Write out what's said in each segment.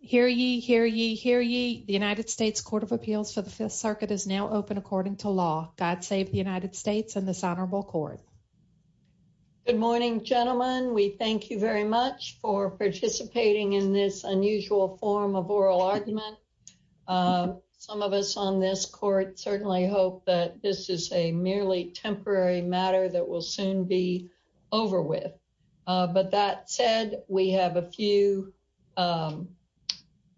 Hear ye, hear ye, hear ye. The United States Court of Appeals for the Fifth Circuit is now open according to law. God save the United States and this honorable court. Good morning, gentlemen. We thank you very much for participating in this unusual form of oral argument. Some of us on this court certainly hope that this is a merely temporary matter that will soon be over with. But that said, we have a few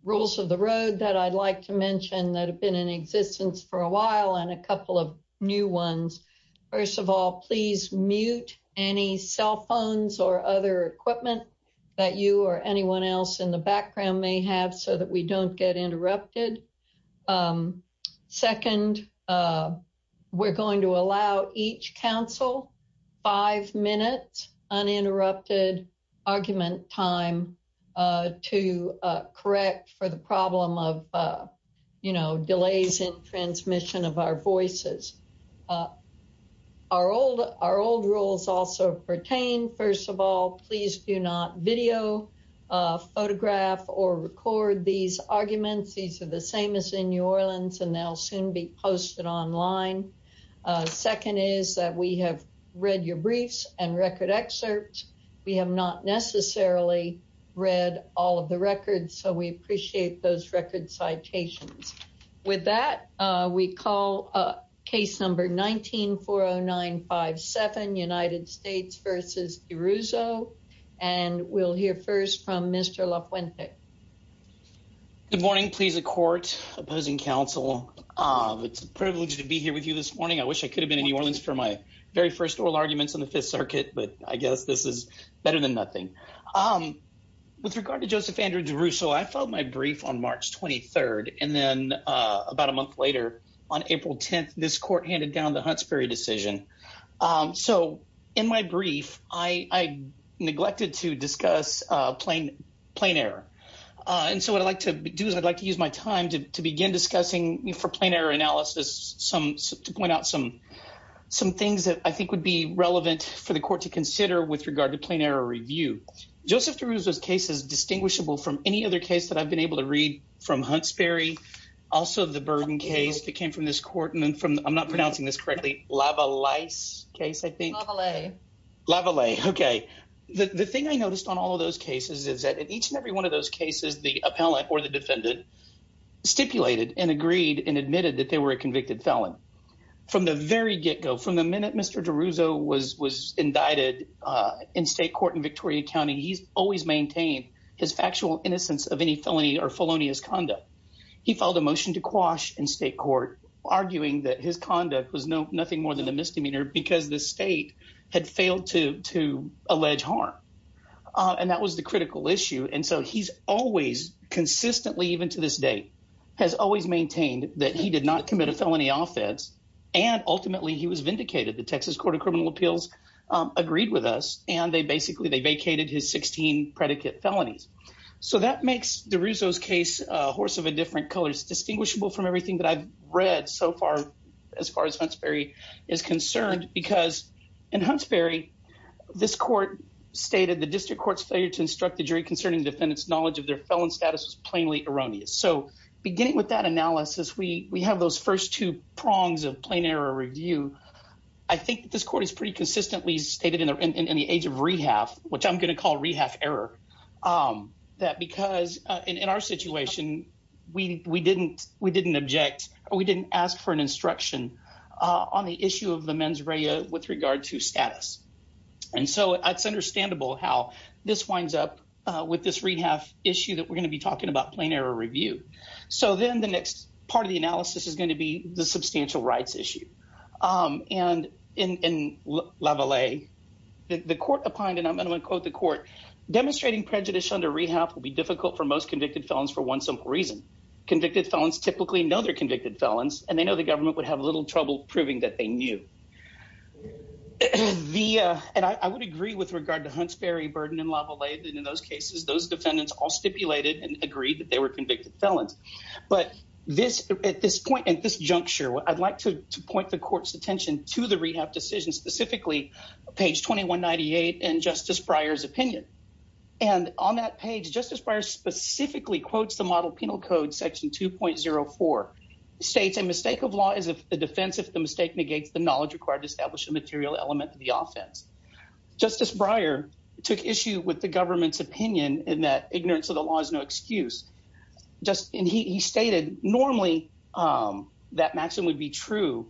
rules of the road that I'd like to mention that have been in existence for a while and a couple of new ones. First of all, please mute any cell phones or other equipment that you or anyone else in the background may have so that we don't get interrupted. Second, we're going to allow each counsel five minutes uninterrupted argument time to correct for the problem of, you know, delays in transmission of our voices. Our old rules also pertain. First of all, please do not video, photograph, or record these arguments. These are the same as in New Orleans and they'll soon be posted online. Second is that we have read your briefs and record excerpts. We have not necessarily read all of the records, so we appreciate those record citations. With that, we call case number 19-409-57, United States v. DeRusso, and we'll hear first from Mr. LaFuente. Good morning, please, the court, opposing counsel. It's a privilege to be here with you this morning. I wish I could have been in New Orleans for my very first oral arguments in the Fifth Circuit, but I guess this is better than nothing. With regard to Joseph Andrew DeRusso, I filed my brief on March 23rd, and then about a month later, on April 10th, this court handed down the Huntsbury decision. So in my brief, I neglected to discuss plain error. And so what I'd like to do is I'd like to use my time to begin discussing for plain error analysis to point out some things that I think would be relevant for the court to consider with regard to plain error review. Joseph DeRusso's case is distinguishable from any other case that I've been able to read from Huntsbury, also the Burden case that came from this court, and then from, I'm not pronouncing this correctly, Lavalaise case, I think. Lavalaise. Lavalaise, okay. The thing I noticed on all of those cases is that in each and every one of those cases, the appellant or the defendant stipulated and agreed and admitted that they were a convicted felon. From the very get-go, from the minute Mr. DeRusso was indicted in state court in Victoria County, he's always maintained his factual innocence of any felony or felonious conduct. He filed a motion to quash in state court, arguing that his conduct was nothing more than a misdemeanor because the state had failed to allege harm. And that was the critical issue. And so he's always consistently, even to this day, has always maintained that he agreed with us. And they basically, they vacated his 16 predicate felonies. So that makes DeRusso's case a horse of a different color. It's distinguishable from everything that I've read so far, as far as Huntsbury is concerned, because in Huntsbury, this court stated the district court's failure to instruct the jury concerning defendant's knowledge of their felon status was plainly erroneous. So beginning with that analysis, we have those first two prongs of plain error review. I think this court has pretty consistently stated in the age of rehab, which I'm going to call rehab error, that because in our situation, we didn't object or we didn't ask for an instruction on the issue of the mens rea with regard to status. And so it's understandable how this winds up with this rehab issue that we're talking about plain error review. So then the next part of the analysis is going to be the substantial rights issue. And in level A, the court opined, and I'm going to quote the court, demonstrating prejudice under rehab will be difficult for most convicted felons for one simple reason. Convicted felons typically know they're convicted felons, and they know the government would have little trouble proving that they knew. And I would agree with regard to agree that they were convicted felons. But at this point, at this juncture, I'd like to point the court's attention to the rehab decision, specifically page 2198 and Justice Breyer's opinion. And on that page, Justice Breyer specifically quotes the model penal code, section 2.04, states a mistake of law is a defense if the mistake negates the knowledge required to establish a material element of the offense. Justice Breyer took issue with the just, and he stated, normally that maxim would be true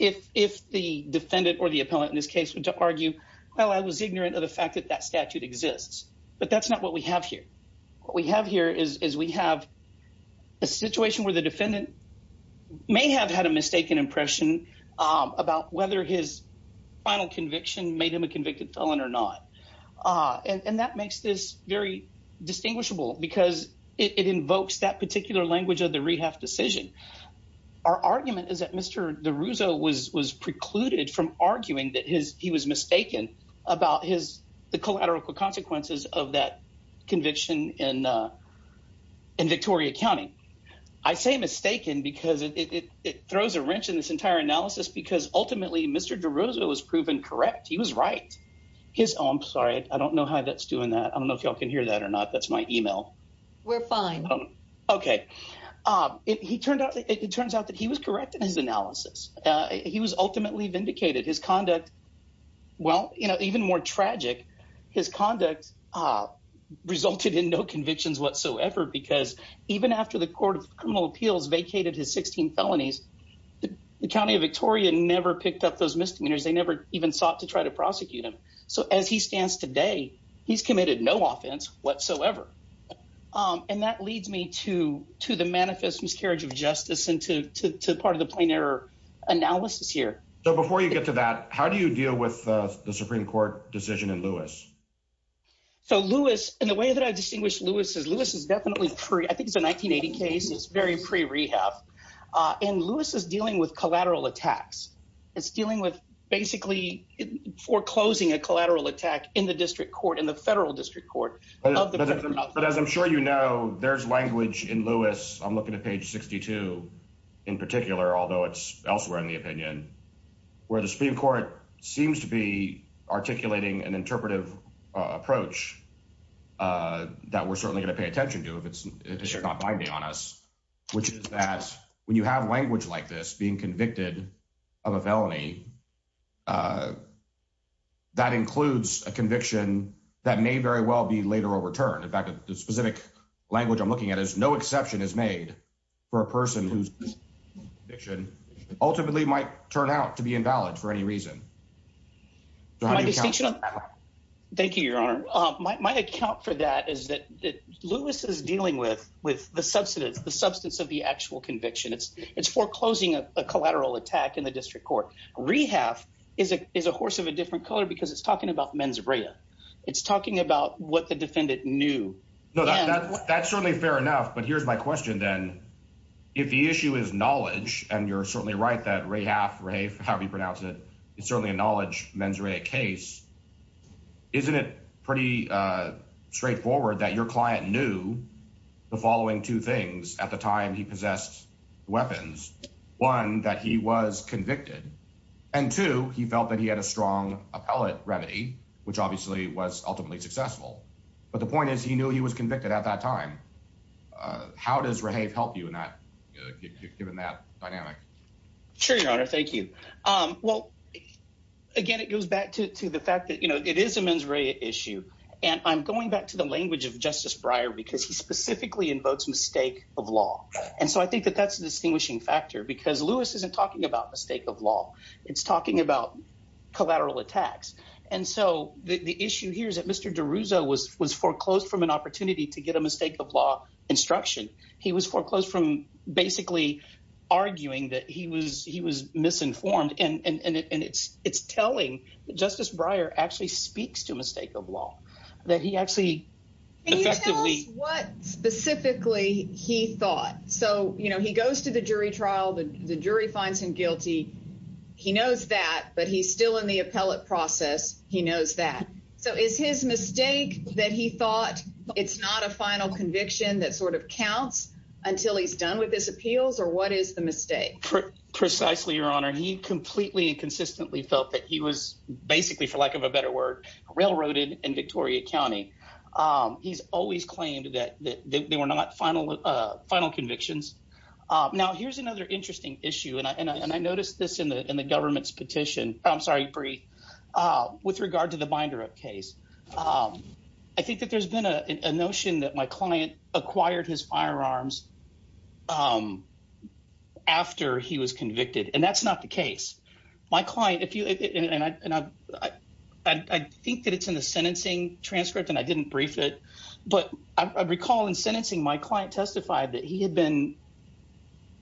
if the defendant or the appellant in this case were to argue, well, I was ignorant of the fact that that statute exists. But that's not what we have here. What we have here is we have a situation where the defendant may have had a mistaken impression about whether his final conviction made him a convicted felon or not. And that makes this very distinguishable because it invokes that particular language of the rehab decision. Our argument is that Mr. DeRuzo was precluded from arguing that he was mistaken about the collateral consequences of that conviction in Victoria County. I say mistaken because it throws a wrench in this entire analysis because ultimately Mr. DeRuzo was proven correct. He was right. Oh, I'm sorry. I don't know how that's doing that. I don't know if y'all can hear that or not. That's my email. We're fine. Okay. It turns out that he was correct in his analysis. He was ultimately vindicated. His conduct, well, you know, even more tragic, his conduct resulted in no convictions whatsoever because even after the Court of Criminal Appeals vacated his 16 felonies, the County of Victoria never picked up those misdemeanors. They never even sought to try to prosecute him. So as he stands today, he's committed no offense whatsoever. And that leads me to the manifest miscarriage of justice and to part of the plain error analysis here. So before you get to that, how do you deal with the Supreme Court decision in Lewis? So Lewis, and the way that I distinguish Lewis is Lewis is definitely pre, I think it's a 1980 case. It's very pre-rehab. And Lewis is dealing with collateral attacks. It's dealing with basically foreclosing a collateral attack in the district court, in the federal district court. But as I'm sure you know, there's language in Lewis, I'm looking at page 62 in particular, although it's elsewhere in the opinion, where the Supreme Court seems to be articulating an interpretive approach that we're certainly going to pay attention to if it's not binding on us, which is that when you have language like this being convicted of a felony, that includes a conviction that may very well be later overturned. In fact, the specific language I'm looking at is no exception is made for a person whose conviction ultimately might turn out to be invalid for any reason. Thank you, Your Honor. My account for that is that Lewis is dealing with the substance of the actual conviction. It's foreclosing a collateral attack in the district court. Rehaf is a horse of a different color because it's talking about mens rea. It's talking about what the defendant knew. No, that's certainly fair enough. But here's my question then. If the issue is knowledge, and you're certainly right that Rehaf, however you pronounce it, it's certainly a knowledge mens rea case. Isn't it pretty straightforward that your client knew the following two things at the time he possessed weapons? One, that he was convicted. And two, he felt that he had a strong appellate remedy, which obviously was ultimately successful. But the point is he knew he was convicted at that time. How does Rehaf help you in that given that dynamic? Sure, Your Honor. Thank you. Well, again, it goes back to the fact that it is a mens rea issue. And I'm going back to the language of Justice Breyer because he specifically invokes mistake of law. And so I think that that's a distinguishing factor because Lewis isn't talking about mistake of law. It's talking about collateral attacks. And so the issue here is that Mr. DeRusso was foreclosed from an opportunity to get a mistake of law instruction. He was foreclosed from basically arguing that he was misinformed. And it's telling that Justice Breyer actually speaks to mistake of law, that he actually effectively... Can you tell us what specifically he thought? So he goes to the jury trial, the jury finds him guilty. He knows that, but he's still in the appellate process. He knows that. So is his mistake that he thought it's not a final conviction that sort of counts until he's done with his appeals or what is the mistake? Precisely, Your Honor. He completely and consistently felt that he was basically for lack of a better word, railroaded in Victoria County. He's always claimed that they were not final convictions. Now, here's another interesting issue. And I noticed this in the government's petition. I'm sorry, Brie, with regard to the binder up case. I think that there's been a notion that my client acquired his firearms after he was convicted. And that's not the case. My client, if you... And I think that it's in the sentencing transcript and I didn't brief it. But I recall in sentencing, my client testified that he had been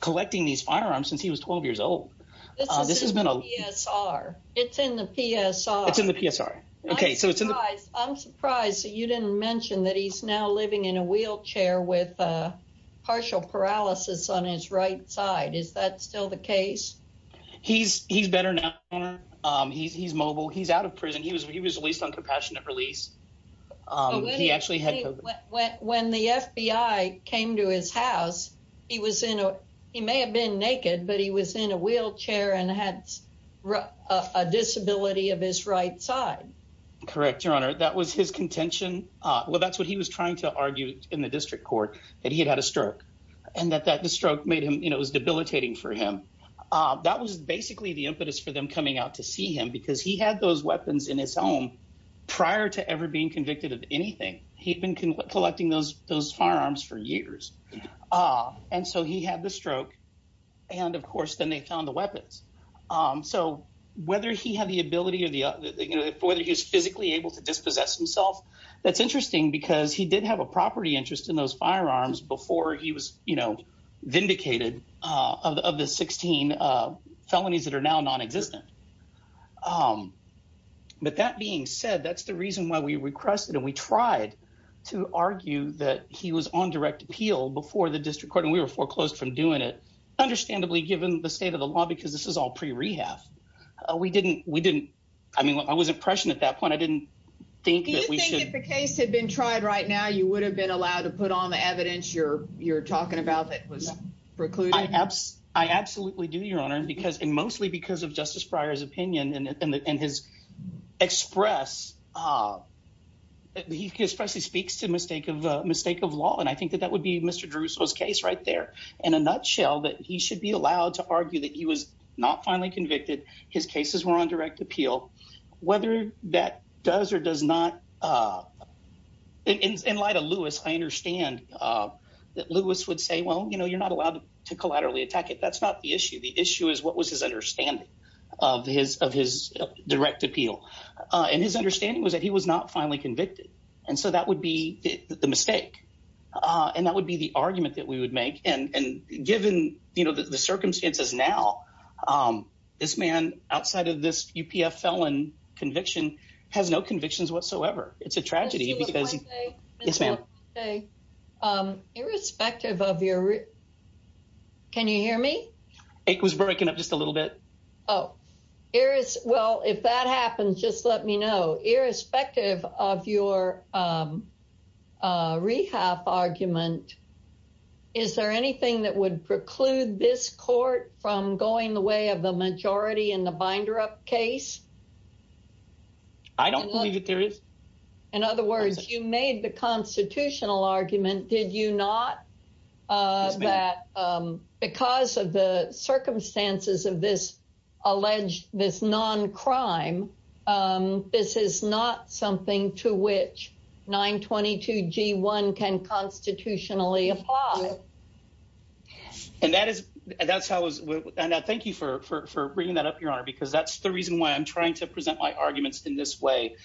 collecting these firearms since he was 12 years old. This has been a... This is in the PSR. It's in the PSR. It's in the PSR. Okay. So it's in the... I'm surprised that you didn't mention that he's now living in a wheelchair with partial paralysis on his right side. Is that still the case? He's better now, Your Honor. He's mobile. He's out of prison. He was released on compassionate release. He actually had... When the FBI came to his house, he was in a... He may have been naked, but he was in a wheelchair and had a disability of his right side. Correct, Your Honor. That was his contention. Well, that's what he was trying to argue in the district court, that he had had a stroke and that the stroke made him... It was debilitating for him. That was basically the impetus for them coming out to see him because he had those weapons in his home prior to ever being convicted of anything. He'd been collecting those firearms for years. And so he had the stroke. And of course, then they found the weapons. So whether he had the ability or the... Whether he was physically able to dispossess himself, that's interesting because he did have a property interest in those firearms before he was vindicated of the 16 felonies that are now non-existent. But that being said, that's the reason why we requested and we tried to argue that he was on direct appeal before the district court. And we were foreclosed from doing it, understandably, given the state of the law, because this is all pre-rehab. We didn't... I mean, I was impression at that point. I didn't think that we should... Do you think if the case had been tried right now, you would have been allowed to put on the evidence you're talking about that was precluded? I absolutely do, Your Honor, because... And mostly because of Justice Breyer's opinion and his express... He expressly speaks to mistake of law. And I think that that would be Mr. Drusso's case right there. In a nutshell, that he should be allowed to argue that he was not finally convicted, his cases were on direct appeal, whether that does or does not... In light of Lewis, I understand that Lewis would say, well, you're not allowed to collaterally attack it. That's not the issue. The issue is what was his understanding of his direct appeal. And his understanding was that he was not finally convicted. And so that would be the mistake. And that would be the argument that we would make. And given the circumstances now, this man, outside of this UPF felon conviction, has no convictions whatsoever. It's a tragedy because... Mr. LaFontaine. Yes, ma'am. Irrespective of your... Can you hear me? It was breaking up just a little bit. Well, if that happens, just let me know. Irrespective of your argument, is there anything that would preclude this court from going the way of the majority in the Binder Up case? I don't believe that there is. In other words, you made the constitutional argument, did you not, that because of the And that's how I was... And thank you for bringing that up, Your Honor, because that's the reason why I'm trying to present my arguments in this way,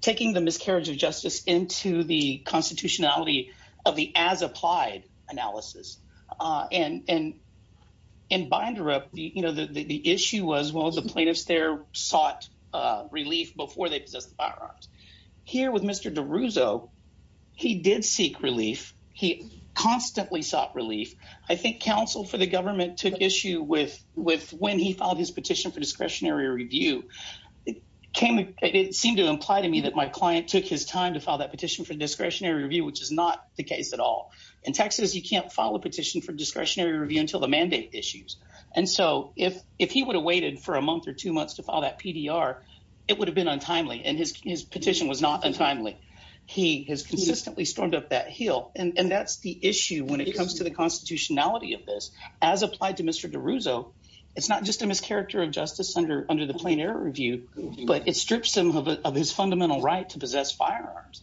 taking the miscarriage of justice into the constitutionality of the as-applied analysis. And in Binder Up, the issue was, well, the plaintiffs there sought relief before they possessed the firearms. Here with Mr. DeRusso, he did seek relief. He constantly sought relief. I think counsel for the government took issue with when he filed his petition for discretionary review. It seemed to imply to me that my client took his time to file that petition for discretionary review, which is not the case at all. In Texas, you can't file a petition for discretionary review until the mandate issues. And so if he would have waited for a month or two months to file that PDR, it would have been untimely. And his petition was not untimely. He has consistently stormed up that hill. And that's the issue when it comes to the constitutionality of this. As applied to Mr. DeRusso, it's not just a mischaracter of justice under the plain error review, but it strips him of his fundamental right to possess firearms,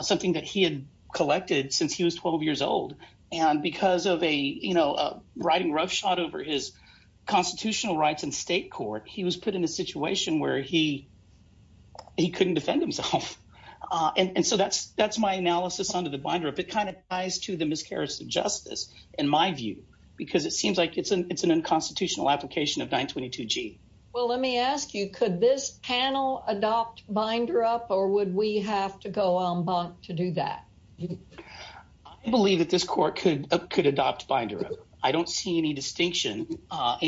something that he had collected since he was 12 years old. And because of a riding roughshod over his constitutional rights in state court, he was put in a situation where he couldn't defend himself. And so that's my analysis under the binder. It kind of ties to the miscarriage of justice in my view, because it seems like it's an unconstitutional application of 922G. Well, let me ask you, could this panel adopt binder up or would we have to go en banc to do that? I believe that this court could adopt binder up. I don't see any distinction. I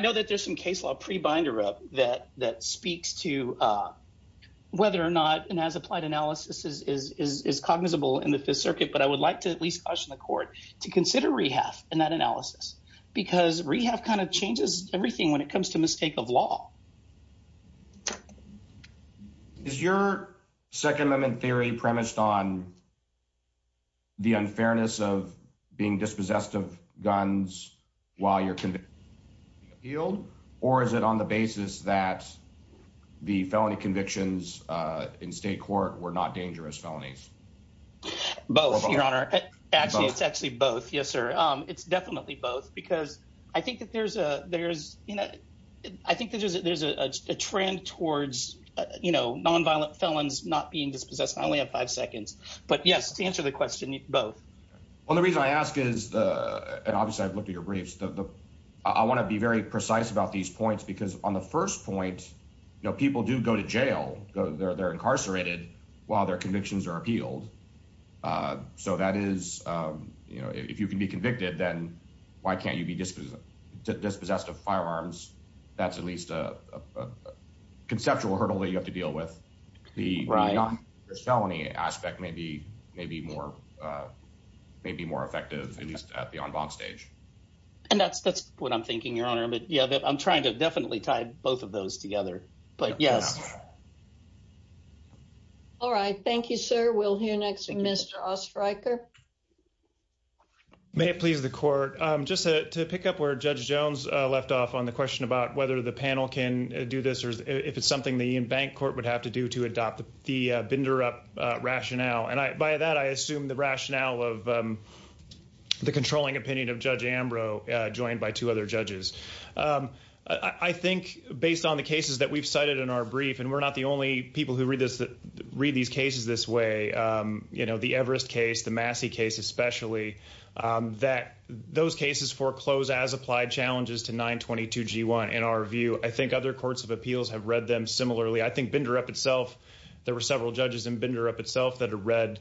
know that there's some case law pre-binder up that speaks to whether or not an as-applied analysis is cognizable in the Fifth Circuit, but I would like to at least caution the court to consider rehalf in that analysis, because rehalf kind of changes everything when it comes to mistake of law. Is your Second Amendment theory premised on the unfairness of being dispossessed of guns while you're being appealed, or is it on the basis that the felony convictions in state court were not dangerous felonies? Both, Your Honor. Actually, it's actually both. Yes, sir. It's definitely both, because I think there's a trend towards nonviolent felons not being dispossessed. I only have five seconds, but yes, to answer the question, both. Well, the reason I ask is, and obviously I've looked at your briefs, I want to be very precise about these points, because on the first point, people do go to jail. They're incarcerated while their convictions are appealed. So that is, you know, if you can be convicted, then why can't you be dispossessed of firearms? That's at least a conceptual hurdle that you have to deal with. The non-dangerous felony aspect may be more effective, at least at the en banc stage. And that's what I'm thinking, Your Honor. But yeah, I'm trying to definitely tie both of those together. But yes. All right. Thank you, sir. We'll hear next from Mr. Ostreicher. May it please the Court. Just to pick up where Judge Jones left off on the question about whether the panel can do this, or if it's something the en banc court would have to do to adopt the binder-up rationale. And by that, I assume the rationale of the controlling opinion of Judge Jones is that, you know, we're not the only people who read these cases this way. You know, the Everest case, the Massey case especially, that those cases foreclose as applied challenges to 922 G1, in our view. I think other courts of appeals have read them similarly. I think binder-up itself, there were several judges in binder-up itself that have read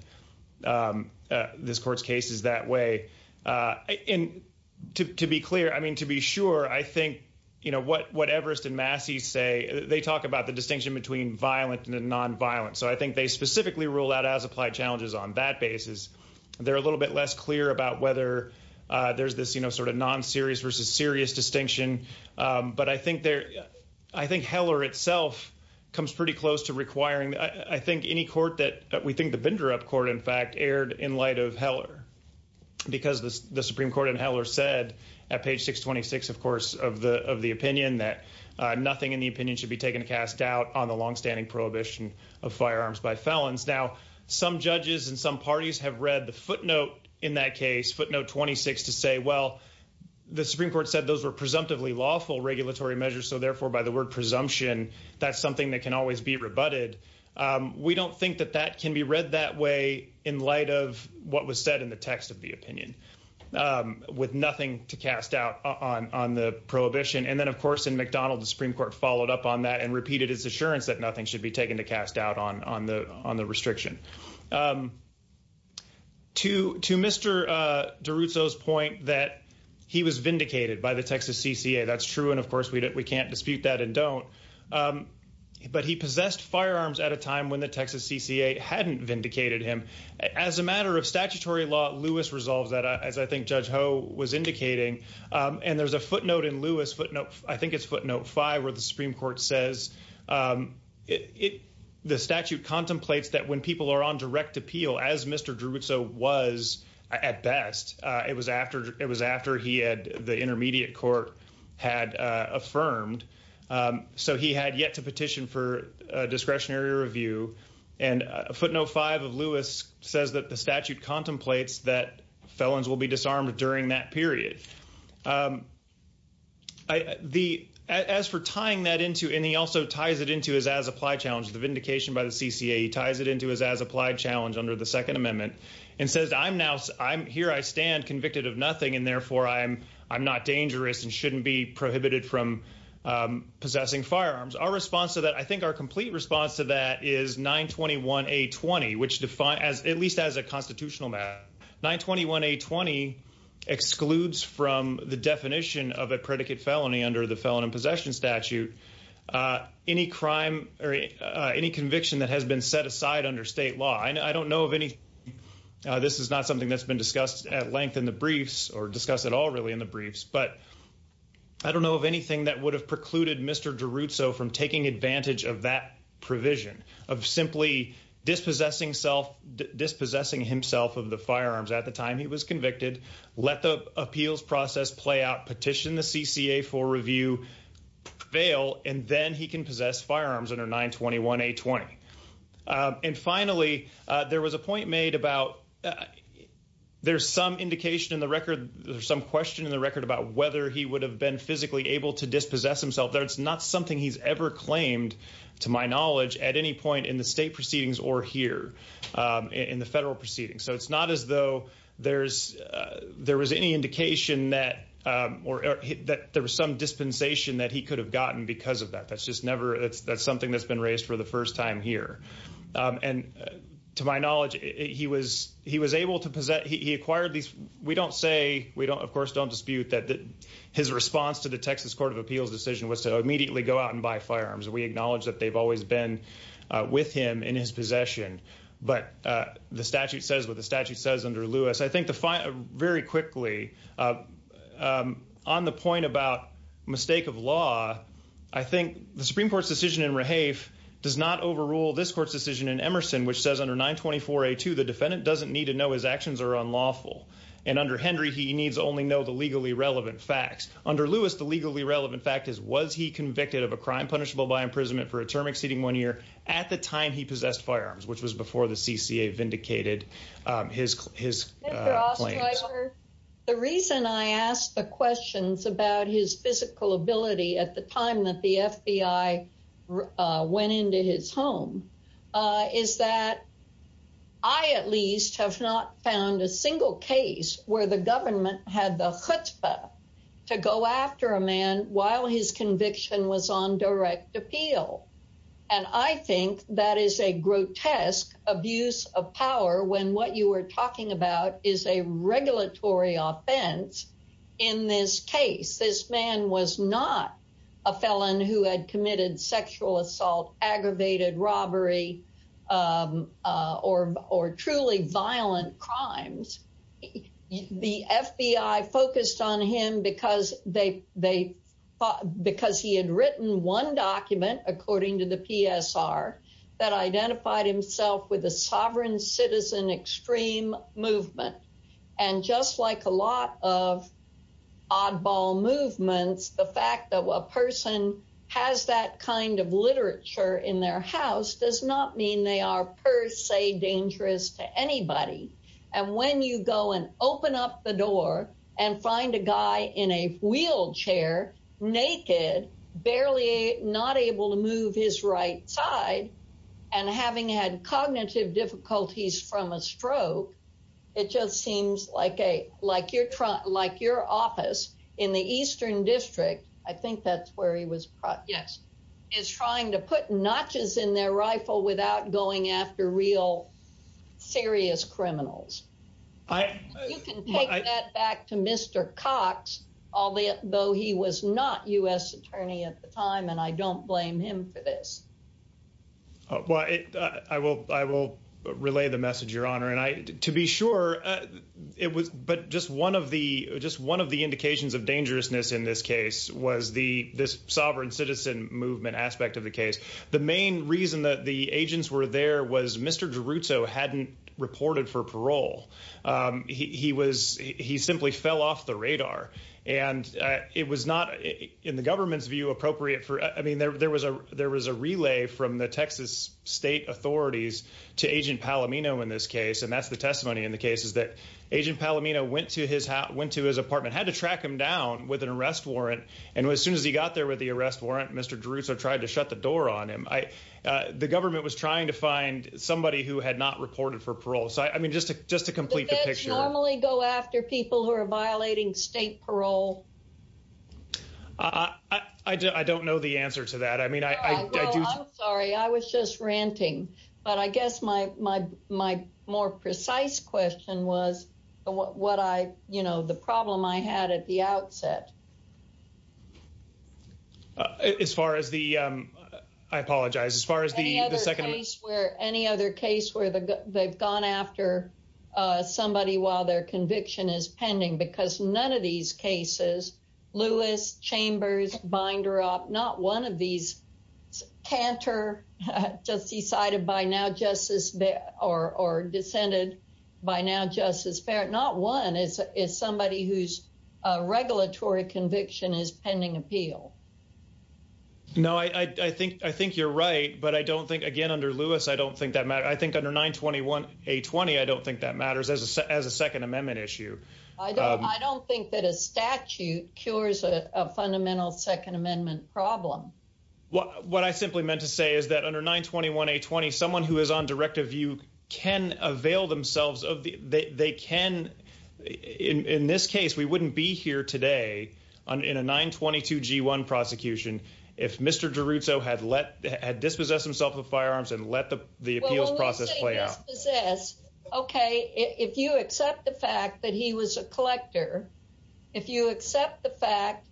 this court's cases that way. And to be clear, I mean, to be sure, I think, you know, what Everest and violent and non-violent. So I think they specifically rule out as applied challenges on that basis. They're a little bit less clear about whether there's this, you know, sort of non-serious versus serious distinction. But I think there, I think Heller itself comes pretty close to requiring, I think any court that, we think the binder-up court, in fact, erred in light of Heller. Because the Supreme Court and Heller said at page 626, of course, of the opinion that nothing in the opinion should be taken to cast doubt on the longstanding prohibition of firearms by felons. Now, some judges and some parties have read the footnote in that case, footnote 26, to say, well, the Supreme Court said those were presumptively lawful regulatory measures. So therefore, by the word presumption, that's something that can always be rebutted. We don't think that that can be read that way in light of what was said in the text of the opinion, with nothing to cast doubt on the prohibition. And then, of course, in McDonald, the Supreme Court followed up on that and repeated its assurance that nothing should be taken to cast doubt on the restriction. To Mr. DiRusso's point that he was vindicated by the Texas CCA, that's true. And of course, we can't dispute that and don't. But he possessed firearms at a time when the Texas CCA hadn't vindicated him. As a matter of statutory law, Lewis resolves that, as I think Judge Ho was indicating. And there's a footnote in Lewis, footnote, I think it's footnote five, where the Supreme Court says the statute contemplates that when people are on direct appeal, as Mr. DiRusso was at best, it was after he had the intermediate court had affirmed. So he had yet to petition for discretionary review. And footnote five of Lewis says that the statute contemplates that felons will be disarmed during that period. As for tying that into, and he also ties it into his as-applied challenge, the vindication by the CCA, he ties it into his as-applied challenge under the Second Amendment and says, I'm now, I'm here, I stand convicted of nothing, and therefore I'm not dangerous and shouldn't be prohibited from possessing firearms. Our response to that, I think our complete response to that is 921A20, which defines, at least as a constitutional matter, 921A20 excludes from the definition of a predicate felony under the Felon in Possession Statute, any crime or any conviction that has been set aside under state law. I don't know of any, this is not something that's been discussed at length in the briefs or discussed at all really in the briefs, but I don't know of anything that would have precluded Mr. DiRusso from taking advantage of that provision of simply dispossessing himself of the firearms at the time he was convicted, let the appeals process play out, petition the CCA for review, fail, and then he can possess firearms under 921A20. And finally, there was a point made about, there's some indication in the record, there's some question in the record about whether he would have been physically able to at any point in the state proceedings or here, in the federal proceedings. So it's not as though there was any indication that there was some dispensation that he could have gotten because of that. That's just never, that's something that's been raised for the first time here. And to my knowledge, he was able to possess, he acquired these, we don't say, we don't, of course, don't dispute that his response to the Texas Court of Appeals decision was to with him in his possession. But the statute says what the statute says under Lewis. I think the final, very quickly, on the point about mistake of law, I think the Supreme Court's decision in does not overrule this court's decision in Emerson, which says under 924A2, the defendant doesn't need to know his actions are unlawful. And under Henry, he needs only know the legally relevant facts. Under Lewis, the legally relevant fact is, was he convicted of a crime punishable by imprisonment for a term exceeding one year at the time he possessed firearms, which was before the CCA vindicated his claims. The reason I asked the questions about his physical ability at the time that the FBI went into his home is that I at least have not found a single case where the FBI has not committed a sexual assault, aggravated robbery, or, or truly violent crimes. The FBI focused on him because he had written one document, according to the PSR, that identified himself with a sovereign citizen extreme movement. And just like a lot of oddball movements, the fact that a person has that kind of literature in their house does not are per se dangerous to anybody. And when you go and open up the door and find a guy in a wheelchair, naked, barely not able to move his right side, and having had cognitive difficulties from a stroke, it just seems like a, like your trunk, like your office in the Eastern district, I think that's where he was. Yes. He's trying to put notches in their going after real serious criminals. You can take that back to Mr. Cox, although he was not U.S. attorney at the time, and I don't blame him for this. Well, I will, I will relay the message, Your Honor. And I, to be sure it was, but just one of the, just one of the indications of dangerousness in this case was the, this sovereign citizen movement aspect of the case. The main reason that the agents were there was Mr. Geruto hadn't reported for parole. He was, he simply fell off the radar and it was not in the government's view appropriate for, I mean, there was a, there was a relay from the Texas state authorities to agent Palomino in this case. And that's the testimony in the case is that agent Palomino went to his house, went to his apartment, had to track him down with an arrest warrant. Mr. Geruto tried to shut the door on him. I, the government was trying to find somebody who had not reported for parole. So, I mean, just to, just to complete the picture. Do the feds normally go after people who are violating state parole? I, I, I don't know the answer to that. I mean, I, I do. Well, I'm sorry. I was just ranting, but I guess my, my, my more precise question was what I, you know, the problem I had at the outset. As far as the, I apologize. As far as the, the second case. Where any other case where they've gone after somebody while their conviction is pending, because none of these cases, Lewis, Chambers, Binderup, not one of these canter, just decided by now justice or, or dissented by now justice. Not one is, is somebody who's a regulatory conviction is pending appeal. No, I, I think, I think you're right, but I don't think again under Lewis, I don't think that matter. I think under 921 A20, I don't think that matters as a, as a second amendment issue. I don't think that a statute cures a fundamental second amendment problem. What I simply meant to say is that under 921 A20, someone who is on directive view can avail themselves of the, they, they can in, in this case, we wouldn't be here today on, in a 922 G1 prosecution. If Mr. DeRuzzo had let, had dispossessed himself with firearms and let the, the appeals process play out. Okay. If you accept the fact that he was a collector, if you accept the fact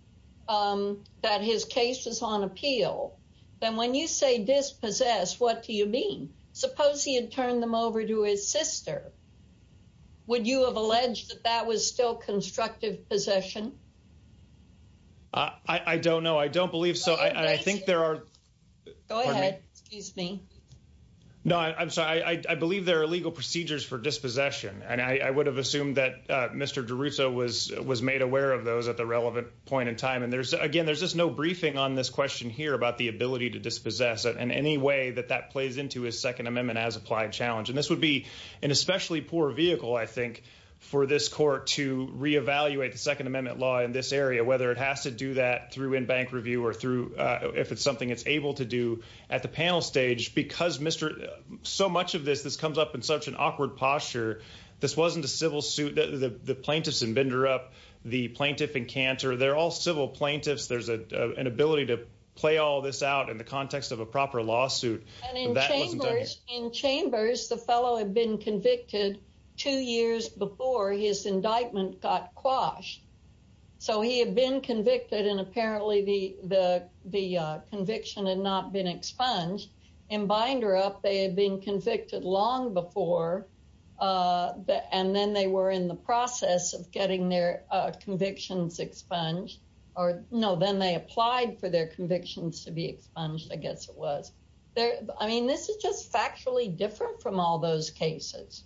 that his case was on appeal, then when you say dispossessed, what do you mean? Suppose he had turned them over to his sister. Would you have alleged that that was still constructive possession? I don't know. I don't believe so. I think there are. Go ahead. Excuse me. No, I'm sorry. I believe there are legal procedures for dispossession and I would have assumed that Mr. DeRuzzo was, was made aware of those at the relevant point in time. And there's again, there's just no briefing on this question here about the ability to dispossess in any way that that plays into his second amendment as applied challenge. And this would be an especially poor vehicle, I think, for this court to reevaluate the second amendment law in this area, whether it has to do that through in-bank review or through, if it's something it's able to do at the panel stage, because Mr., so much of this, this comes up in such an awkward posture. This wasn't a civil suit. The plaintiffs in Binderup, the plaintiff in Cantor, they're all civil plaintiffs. There's an ability to play all this out in the context of a proper lawsuit. In Chambers, the fellow had been convicted two years before his indictment got quashed. So he had been convicted and apparently the conviction had not been expunged. In Binderup, they had been convicted long before, and then they were in the process of getting their convictions expunged or no, then they applied for their convictions to be expunged. I guess it was there. I mean, this is just factually different from all those cases.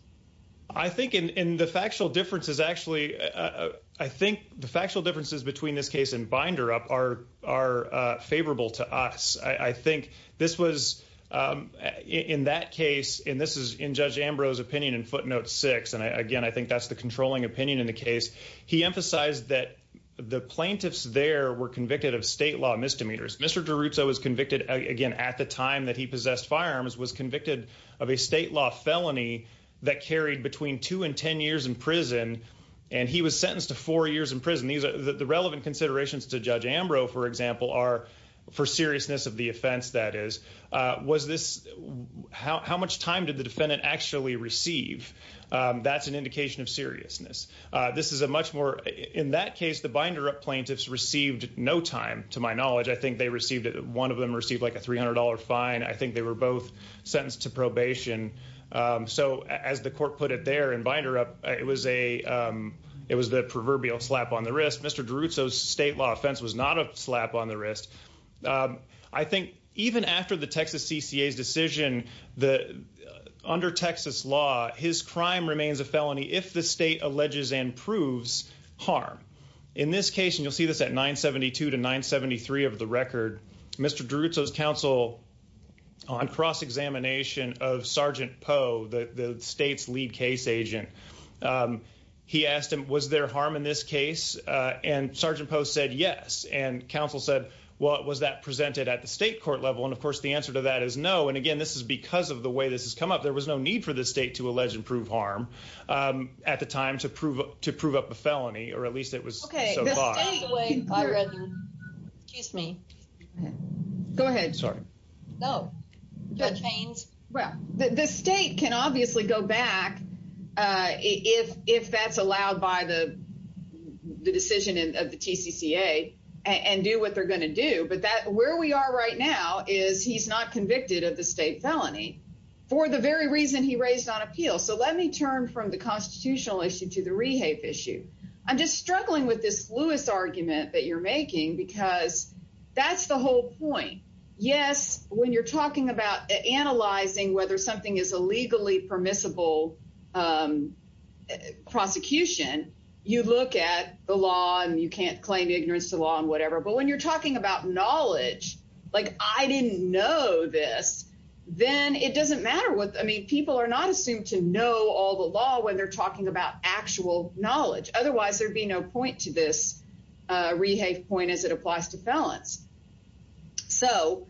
I think in the factual differences, actually, I think the factual differences between this in that case, and this is in Judge Ambrose opinion in footnote six. And again, I think that's the controlling opinion in the case. He emphasized that the plaintiffs there were convicted of state law misdemeanors. Mr. DeRuzzo was convicted again at the time that he possessed firearms, was convicted of a state law felony that carried between two and 10 years in prison. And he was sentenced to four years in prison. The relevant considerations to Judge Ambrose, for example, are for seriousness of the offense that is. How much time did the defendant actually receive? That's an indication of seriousness. In that case, the Binderup plaintiffs received no time to my knowledge. I think one of them received like a $300 fine. I think they were both sentenced to probation. So as the court put it there in Binderup, it was the proverbial slap on the wrist. Mr. DeRuzzo's state law offense was not a slap on the wrist. I think even after the Texas CCA's decision, under Texas law, his crime remains a felony if the state alleges and proves harm. In this case, and you'll see this at 972 to 973 of the record, Mr. DeRuzzo's counsel on cross-examination of Sergeant Poe, the state's lead case agent, he asked him, was there harm in this case? And Sergeant Poe said yes. And counsel said, well, was that presented at the state court level? And of course, the answer to that is no. And again, this is because of the way this has come up. There was no need for the state to allege and prove harm at the time to prove up a felony, or at least it was so far. The state can obviously go back if that's allowed by the decision of the TCCA and do what they're going to do. But where we are right now is he's not convicted of the state felony for the very reason he raised on appeal. So let me turn from the constitutional issue to the rehafe issue. I'm just struggling with this Lewis argument that you're making because that's the whole point. Yes, when you're talking about analyzing whether something is a legally permissible prosecution, you look at the law and you can't claim ignorance to law and whatever. But when you're talking about knowledge, like I didn't know this, then it doesn't matter. I mean, people are not assumed to know all the law when they're talking about actual knowledge. Otherwise, there'd be no point to this rehafe point as it applies to felons. So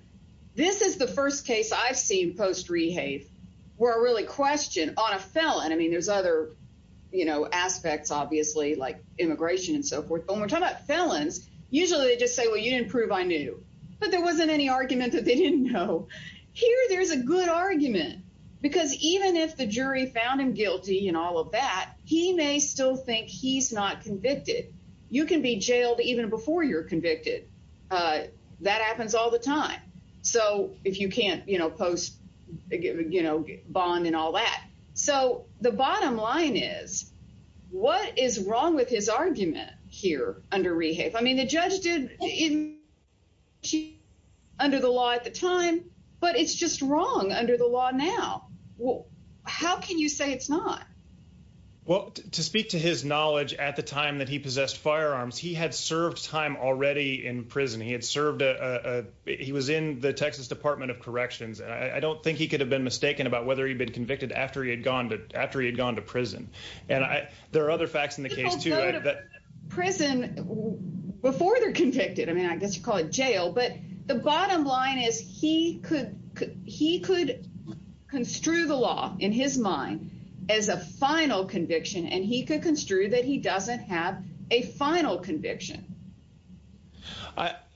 this is the first case I've seen post-rehafe where I really questioned on a felon. I mean, there's other aspects, obviously, like immigration and so forth. But when we're talking about felons, usually they just say, well, you didn't prove I knew. But there wasn't any argument that they didn't know. Here, there's a good argument, because even if the jury found him guilty and all of that, he may still think he's not convicted. You can be jailed even before you're convicted. That happens all the time. So if you can't post bond and all that. So the bottom line is, what is wrong with his argument here under rehafe? I mean, the judge did it under the law at the time, but it's just wrong under the law now. How can you say it's not? Well, to speak to his knowledge at the time that he possessed firearms, he had served time already in prison. He was in the Texas Department of Corrections. I don't think he could have been mistaken about whether he'd been convicted after he had gone to prison. And there are other facts in the case, too. People go to prison before they're convicted. I mean, but the bottom line is he could construe the law in his mind as a final conviction, and he could construe that he doesn't have a final conviction.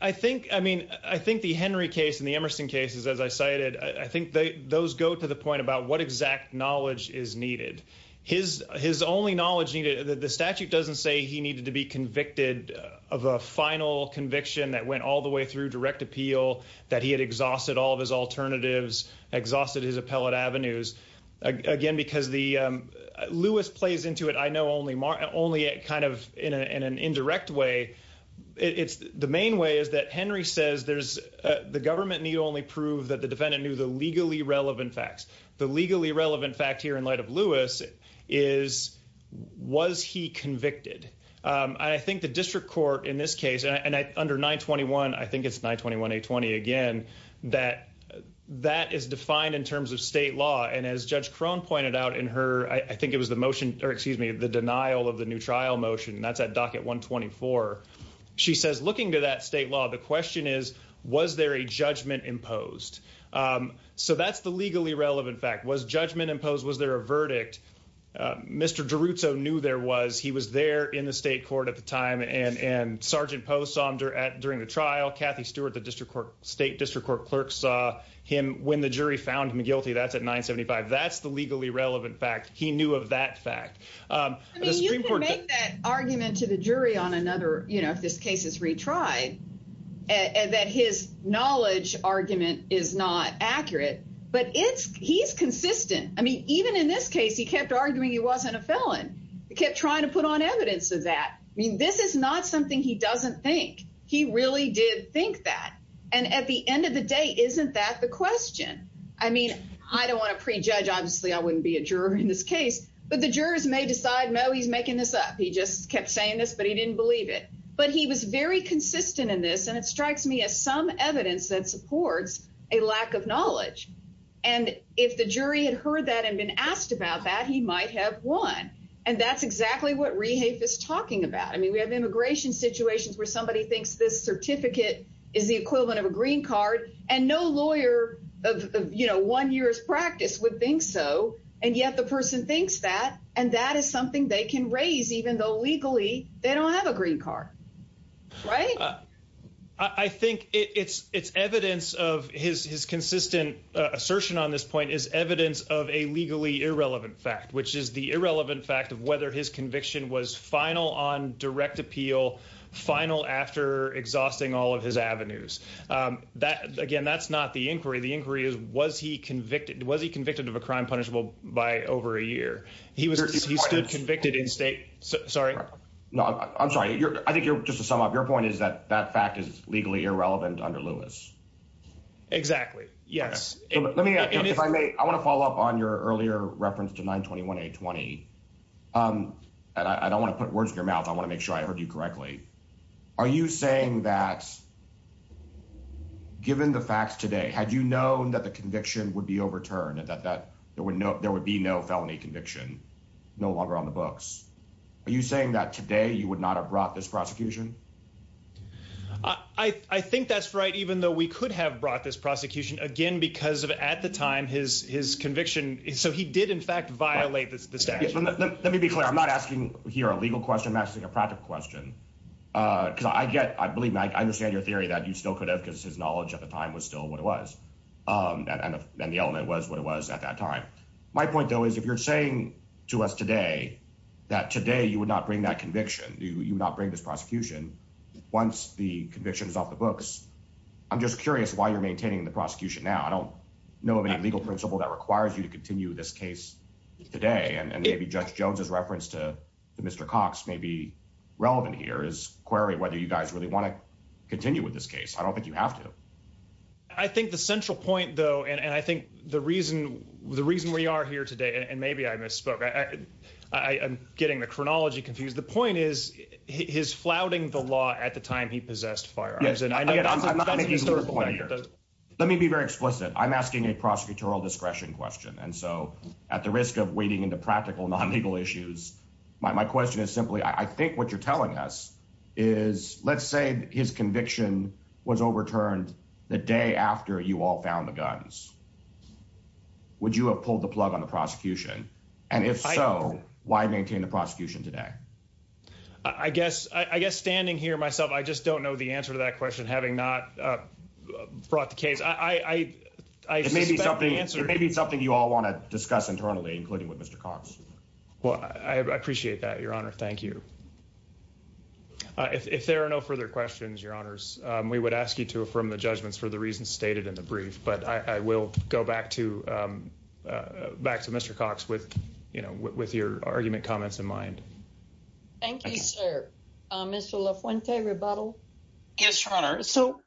I think the Henry case and the Emerson cases, as I cited, I think those go to the point about what exact knowledge is needed. His only knowledge needed, the statute doesn't say he needed to be convicted of a final conviction that went all the way through direct appeal, that he had exhausted all of his alternatives, exhausted his appellate avenues. Again, because Lewis plays into it, I know, only kind of in an indirect way. The main way is that Henry says the government need only prove that the defendant knew the legally relevant facts. The legally relevant fact here in light of Lewis is, was he convicted? And I think the district court in this case, and under 921, I think it's 921A20 again, that that is defined in terms of state law. And as Judge Crone pointed out in her, I think it was the motion, or excuse me, the denial of the new trial motion, and that's at docket 124. She says, looking to that state law, the question is, was there a judgment imposed? So that's the legally relevant fact. Was judgment imposed? Was there a verdict? Mr. DiRuzzo knew there was. He was there in the state court at the time, and Sergeant Poe saw him during the trial. Kathy Stewart, the state district court clerk, saw him when the jury found him guilty. That's at 975. That's the legally relevant fact. He knew of that fact. I mean, you can make that argument to the jury on another, you know, if this case is retried, and that his knowledge argument is not accurate, but it's, he's consistent. I mean, even in this case, he kept arguing he wasn't a felon. He kept trying to put on evidence of that. I mean, this is not something he doesn't think. He really did think that. And at the end of the day, isn't that the question? I mean, I don't want to prejudge. Obviously, I wouldn't be a juror in this case, but the jurors may decide, no, he's making this up. He just kept saying this, but he didn't believe it. But he was very consistent in this, and it strikes me as some evidence that supports a lack of knowledge. And if the jury had heard that and been asked about that, he might have won. And that's exactly what Rehafe is talking about. I mean, we have immigration situations where somebody thinks this certificate is the equivalent of a green card, and no lawyer of, you know, one year's practice would think so. And yet the person thinks that, and that is something they can raise, even though legally they don't have a green card, right? I think it's evidence of his consistent assertion on this point is evidence of a legally irrelevant fact, which is the irrelevant fact of whether his conviction was final on direct appeal, final after exhausting all of his avenues. Again, that's not the inquiry. The inquiry is was he convicted of a crime punishable by over a year? He stood convicted in state, sorry. No, I'm sorry. I think just to sum up, your point is that that fact is legally irrelevant under Lewis. Exactly, yes. Let me, if I may, I want to follow up on your earlier reference to 921-820. And I don't want to put words in your mouth. I want to make sure I heard you correctly. Are you saying that, given the facts today, had you known that the conviction would be overturned and that there would be no felony conviction, no longer on the books? Are you saying that today you would not have brought this prosecution? I think that's right, even though we could have brought this prosecution, again, because of at the time his conviction, so he did in fact violate the statute. Let me be clear. I'm not asking here a legal question. I'm asking a practical question. Because I get, I believe, I understand your theory that you still could have, because his knowledge at the time was still what it was. And the element was what it was at that time. My point, though, is if you're saying to us today that today you would not bring that conviction, you would not bring this prosecution, once the conviction is off the books, I'm just curious why you're maintaining the prosecution now. I don't know of any legal principle that requires you to continue this case today. And maybe Judge Jones's reference to Mr. Cox may be query whether you guys really want to continue with this case. I don't think you have to. I think the central point, though, and I think the reason we are here today, and maybe I misspoke, I'm getting the chronology confused. The point is his flouting the law at the time he possessed firearms. And I know that's a historical fact. Let me be very explicit. I'm asking a prosecutorial discretion question. And so at the risk of wading into practical non-legal issues, my question is simply, I think what you're telling us is, let's say his conviction was overturned the day after you all found the guns. Would you have pulled the plug on the prosecution? And if so, why maintain the prosecution today? I guess standing here myself, I just don't know the answer to that question, having not brought the case. It may be something you all want to I appreciate that, Your Honor. Thank you. If there are no further questions, Your Honors, we would ask you to affirm the judgments for the reasons stated in the brief. But I will go back to Mr. Cox with your argument comments in mind. Thank you, sir. Mr. La Fuente, rebuttal. Yes, Your Honor. So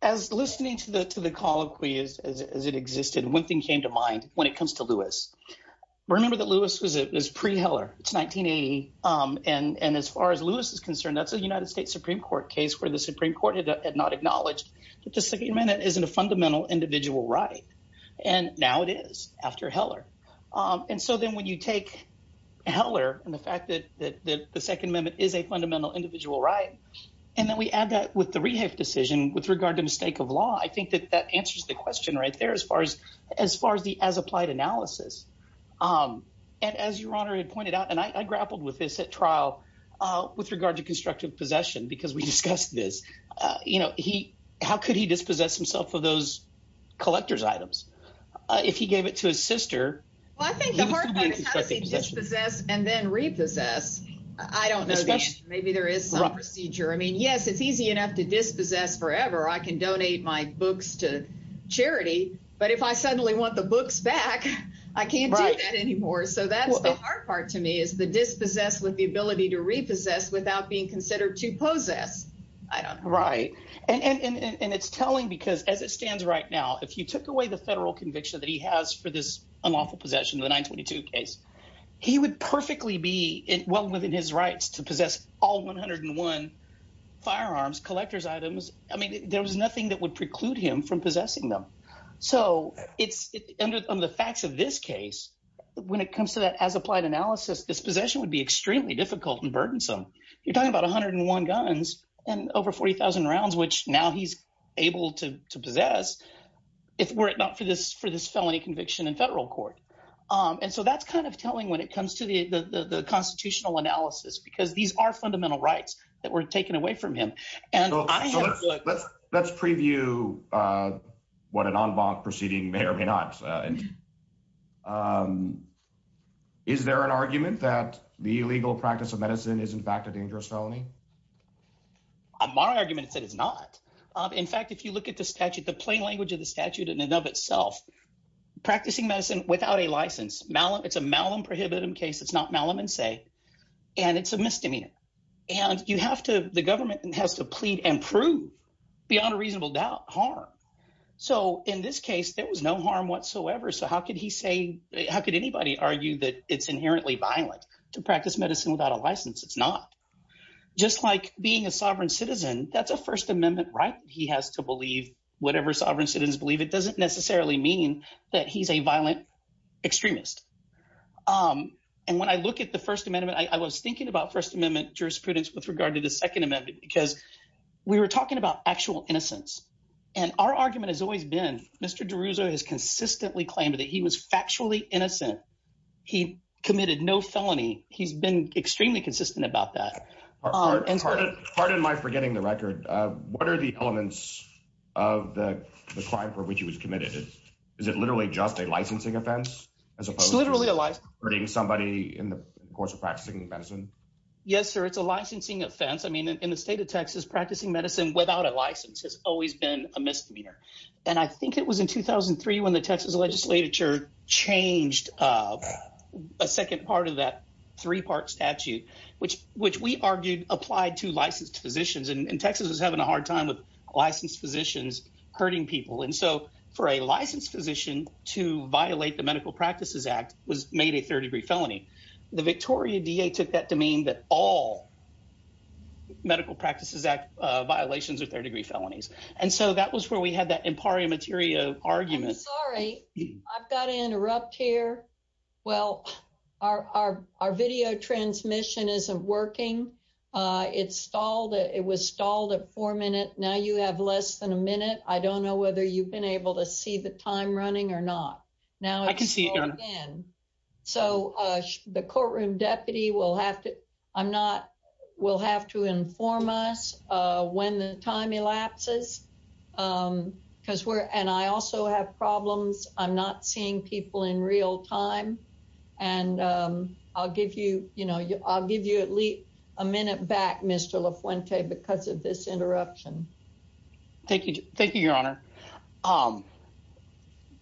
as listening to the colloquy as it existed, one thing came to mind when it came to the second amendment in 1980. And as far as Lewis is concerned, that's a United States Supreme Court case where the Supreme Court had not acknowledged that the second amendment isn't a fundamental individual right. And now it is after Heller. And so then when you take Heller and the fact that the second amendment is a fundamental individual right, and then we add that with the rehave decision with regard to mistake of law, I think that that answers the question right there as far as the as applied analysis. And as Your Honor had pointed out, and I grappled with this at trial with regard to constructive possession, because we discussed this. How could he dispossess himself of those collector's items if he gave it to his sister? Well, I think the hard part is how does he dispossess and then repossess? I don't know. Maybe there is some procedure. I mean, yes, it's easy enough to dispossess forever. I can donate my books to charity. But if I suddenly want the books back, I can't do that anymore. So that's the hard part to me is the dispossess with the ability to repossess without being considered to possess. I don't know. Right. And it's telling because as it stands right now, if you took away the federal conviction that he has for this unlawful possession of the 922 case, he would perfectly be well within his rights to possess all 101 firearms, collector's items. I mean, there was nothing that would preclude him from possessing them. So it's under the facts of this case. When it comes to that as applied analysis, dispossession would be extremely difficult and burdensome. You're talking about 101 guns and over 40,000 rounds, which now he's able to possess if were it not for this for this felony conviction in federal court. And so that's kind of telling when it comes to the constitutional analysis, because these are fundamental rights that were taken away from him. And let's let's preview what an en banc proceeding may or may not. Is there an argument that the illegal practice of medicine is, in fact, a dangerous felony? My argument is that it's not. In fact, if you look at the statute, the plain language of the statute in and of itself, practicing medicine without a license, it's a malum prohibitum case. It's not malum in se. And it's a misdemeanor. And you have to the government has to plead and prove beyond a reasonable doubt harm. So in this case, there was no harm whatsoever. So how could he say how could anybody argue that it's inherently violent to practice medicine without a license? It's not just like being a sovereign citizen. That's a First Amendment right. He has to believe whatever sovereign citizens believe. It doesn't necessarily mean that he's a violent extremist. And when I look at the First Amendment, I was thinking about First Amendment jurisprudence with regard to the Second Amendment, because we were talking about actual innocence. And our argument has always been Mr. DeRouza has consistently claimed that he was factually innocent. He committed no felony. He's been extremely consistent about that. Pardon my forgetting the record. What are the elements of the crime for which he was committed? Is it literally just a licensing offense? It's literally a life hurting somebody in the course of practicing medicine. Yes, sir. It's a licensing offense. I mean, in the state of Texas, practicing medicine without a license has always been a misdemeanor. And I think it was in 2003 when the Texas legislature changed a second part of that three part statute, which which we argued applied to licensed physicians. And Texas is having a hard time with licensed physicians hurting people. And so for a licensed physician to violate the Medical Practices Act was made a third degree felony. The Victoria D.A. took that to mean that all Medical Practices Act violations are third degree felonies. And so that was where we had that impari materia argument. Sorry, I've got to interrupt here. Well, our our video transmission isn't working. It's stalled. It was stalled at four minutes. Now you have less than a minute. I don't know whether you've been able to see the time running or not. Now I can see. And so the courtroom deputy will have to I'm not will have to inform us when the time elapses because we're and I also have problems. I'm not seeing people in real time. And I'll give you you know, I'll give you at least a minute back, Mr. La Fuente, because of this interruption. Thank you. Thank you, Your Honor.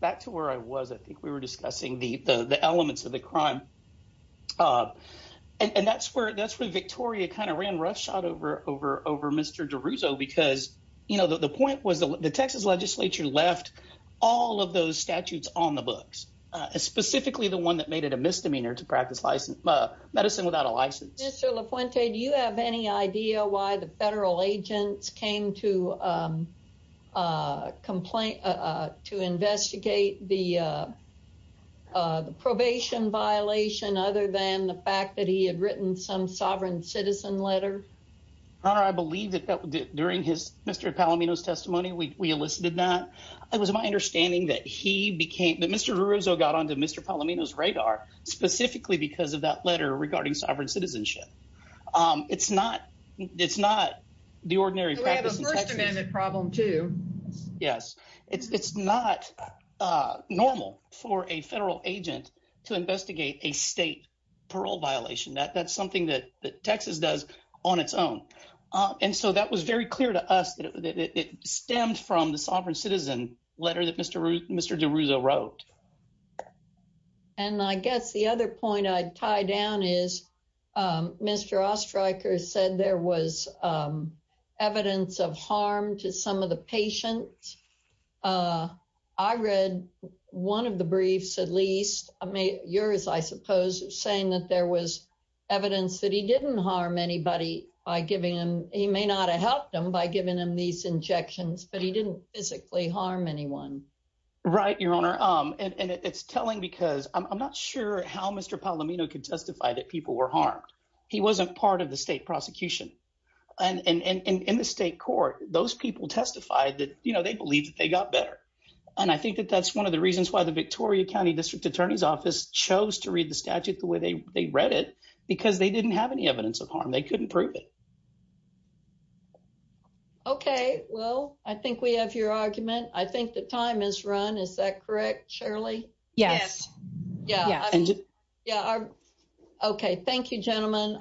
Back to where I was, I think we were discussing the elements of the crime. And that's where that's where Victoria kind of ran roughshod over over over Mr. DeRusso, because, you know, the point was the Texas legislature left all of those statutes on the books, specifically the one that made it a misdemeanor to practice license medicine without a license. Mr. La Fuente, do you have any idea why the federal agents came to complain to investigate the probation violation other than the fact that he had written some sovereign citizen letter? I believe that during his Mr. Palomino's testimony, we elicited that. It was my understanding that he became that Mr. DeRusso got onto Mr. Palomino's radar specifically because of that letter regarding sovereign citizenship. It's not it's not the ordinary problem, too. Yes, it's not normal for a federal agent to investigate a state parole violation. That's something that Texas does on its own. And so that was very clear to us that it stemmed from the sovereign citizen letter that Mr. DeRusso wrote. And I guess the other point I'd tie down is Mr. Oestreicher said there was evidence of harm to some of the patients. I read one of the briefs, at least yours, I suppose, saying that there was evidence that he didn't harm anybody by giving him he may not have helped him by giving him these injections, but he didn't physically harm anyone. Right, Your Honor. And it's telling because I'm not sure how Mr. Palomino could testify that people were harmed. He wasn't part of the state prosecution. And in the state court, those people testified that they believed that they got better. And I think that that's one of the reasons why the Victoria County District Attorney's Office chose to read the statute the way they read it, because they didn't have any will. I think we have your argument. I think the time is run. Is that correct, Shirley? Yes. Yeah. Yeah. Okay. Thank you, gentlemen.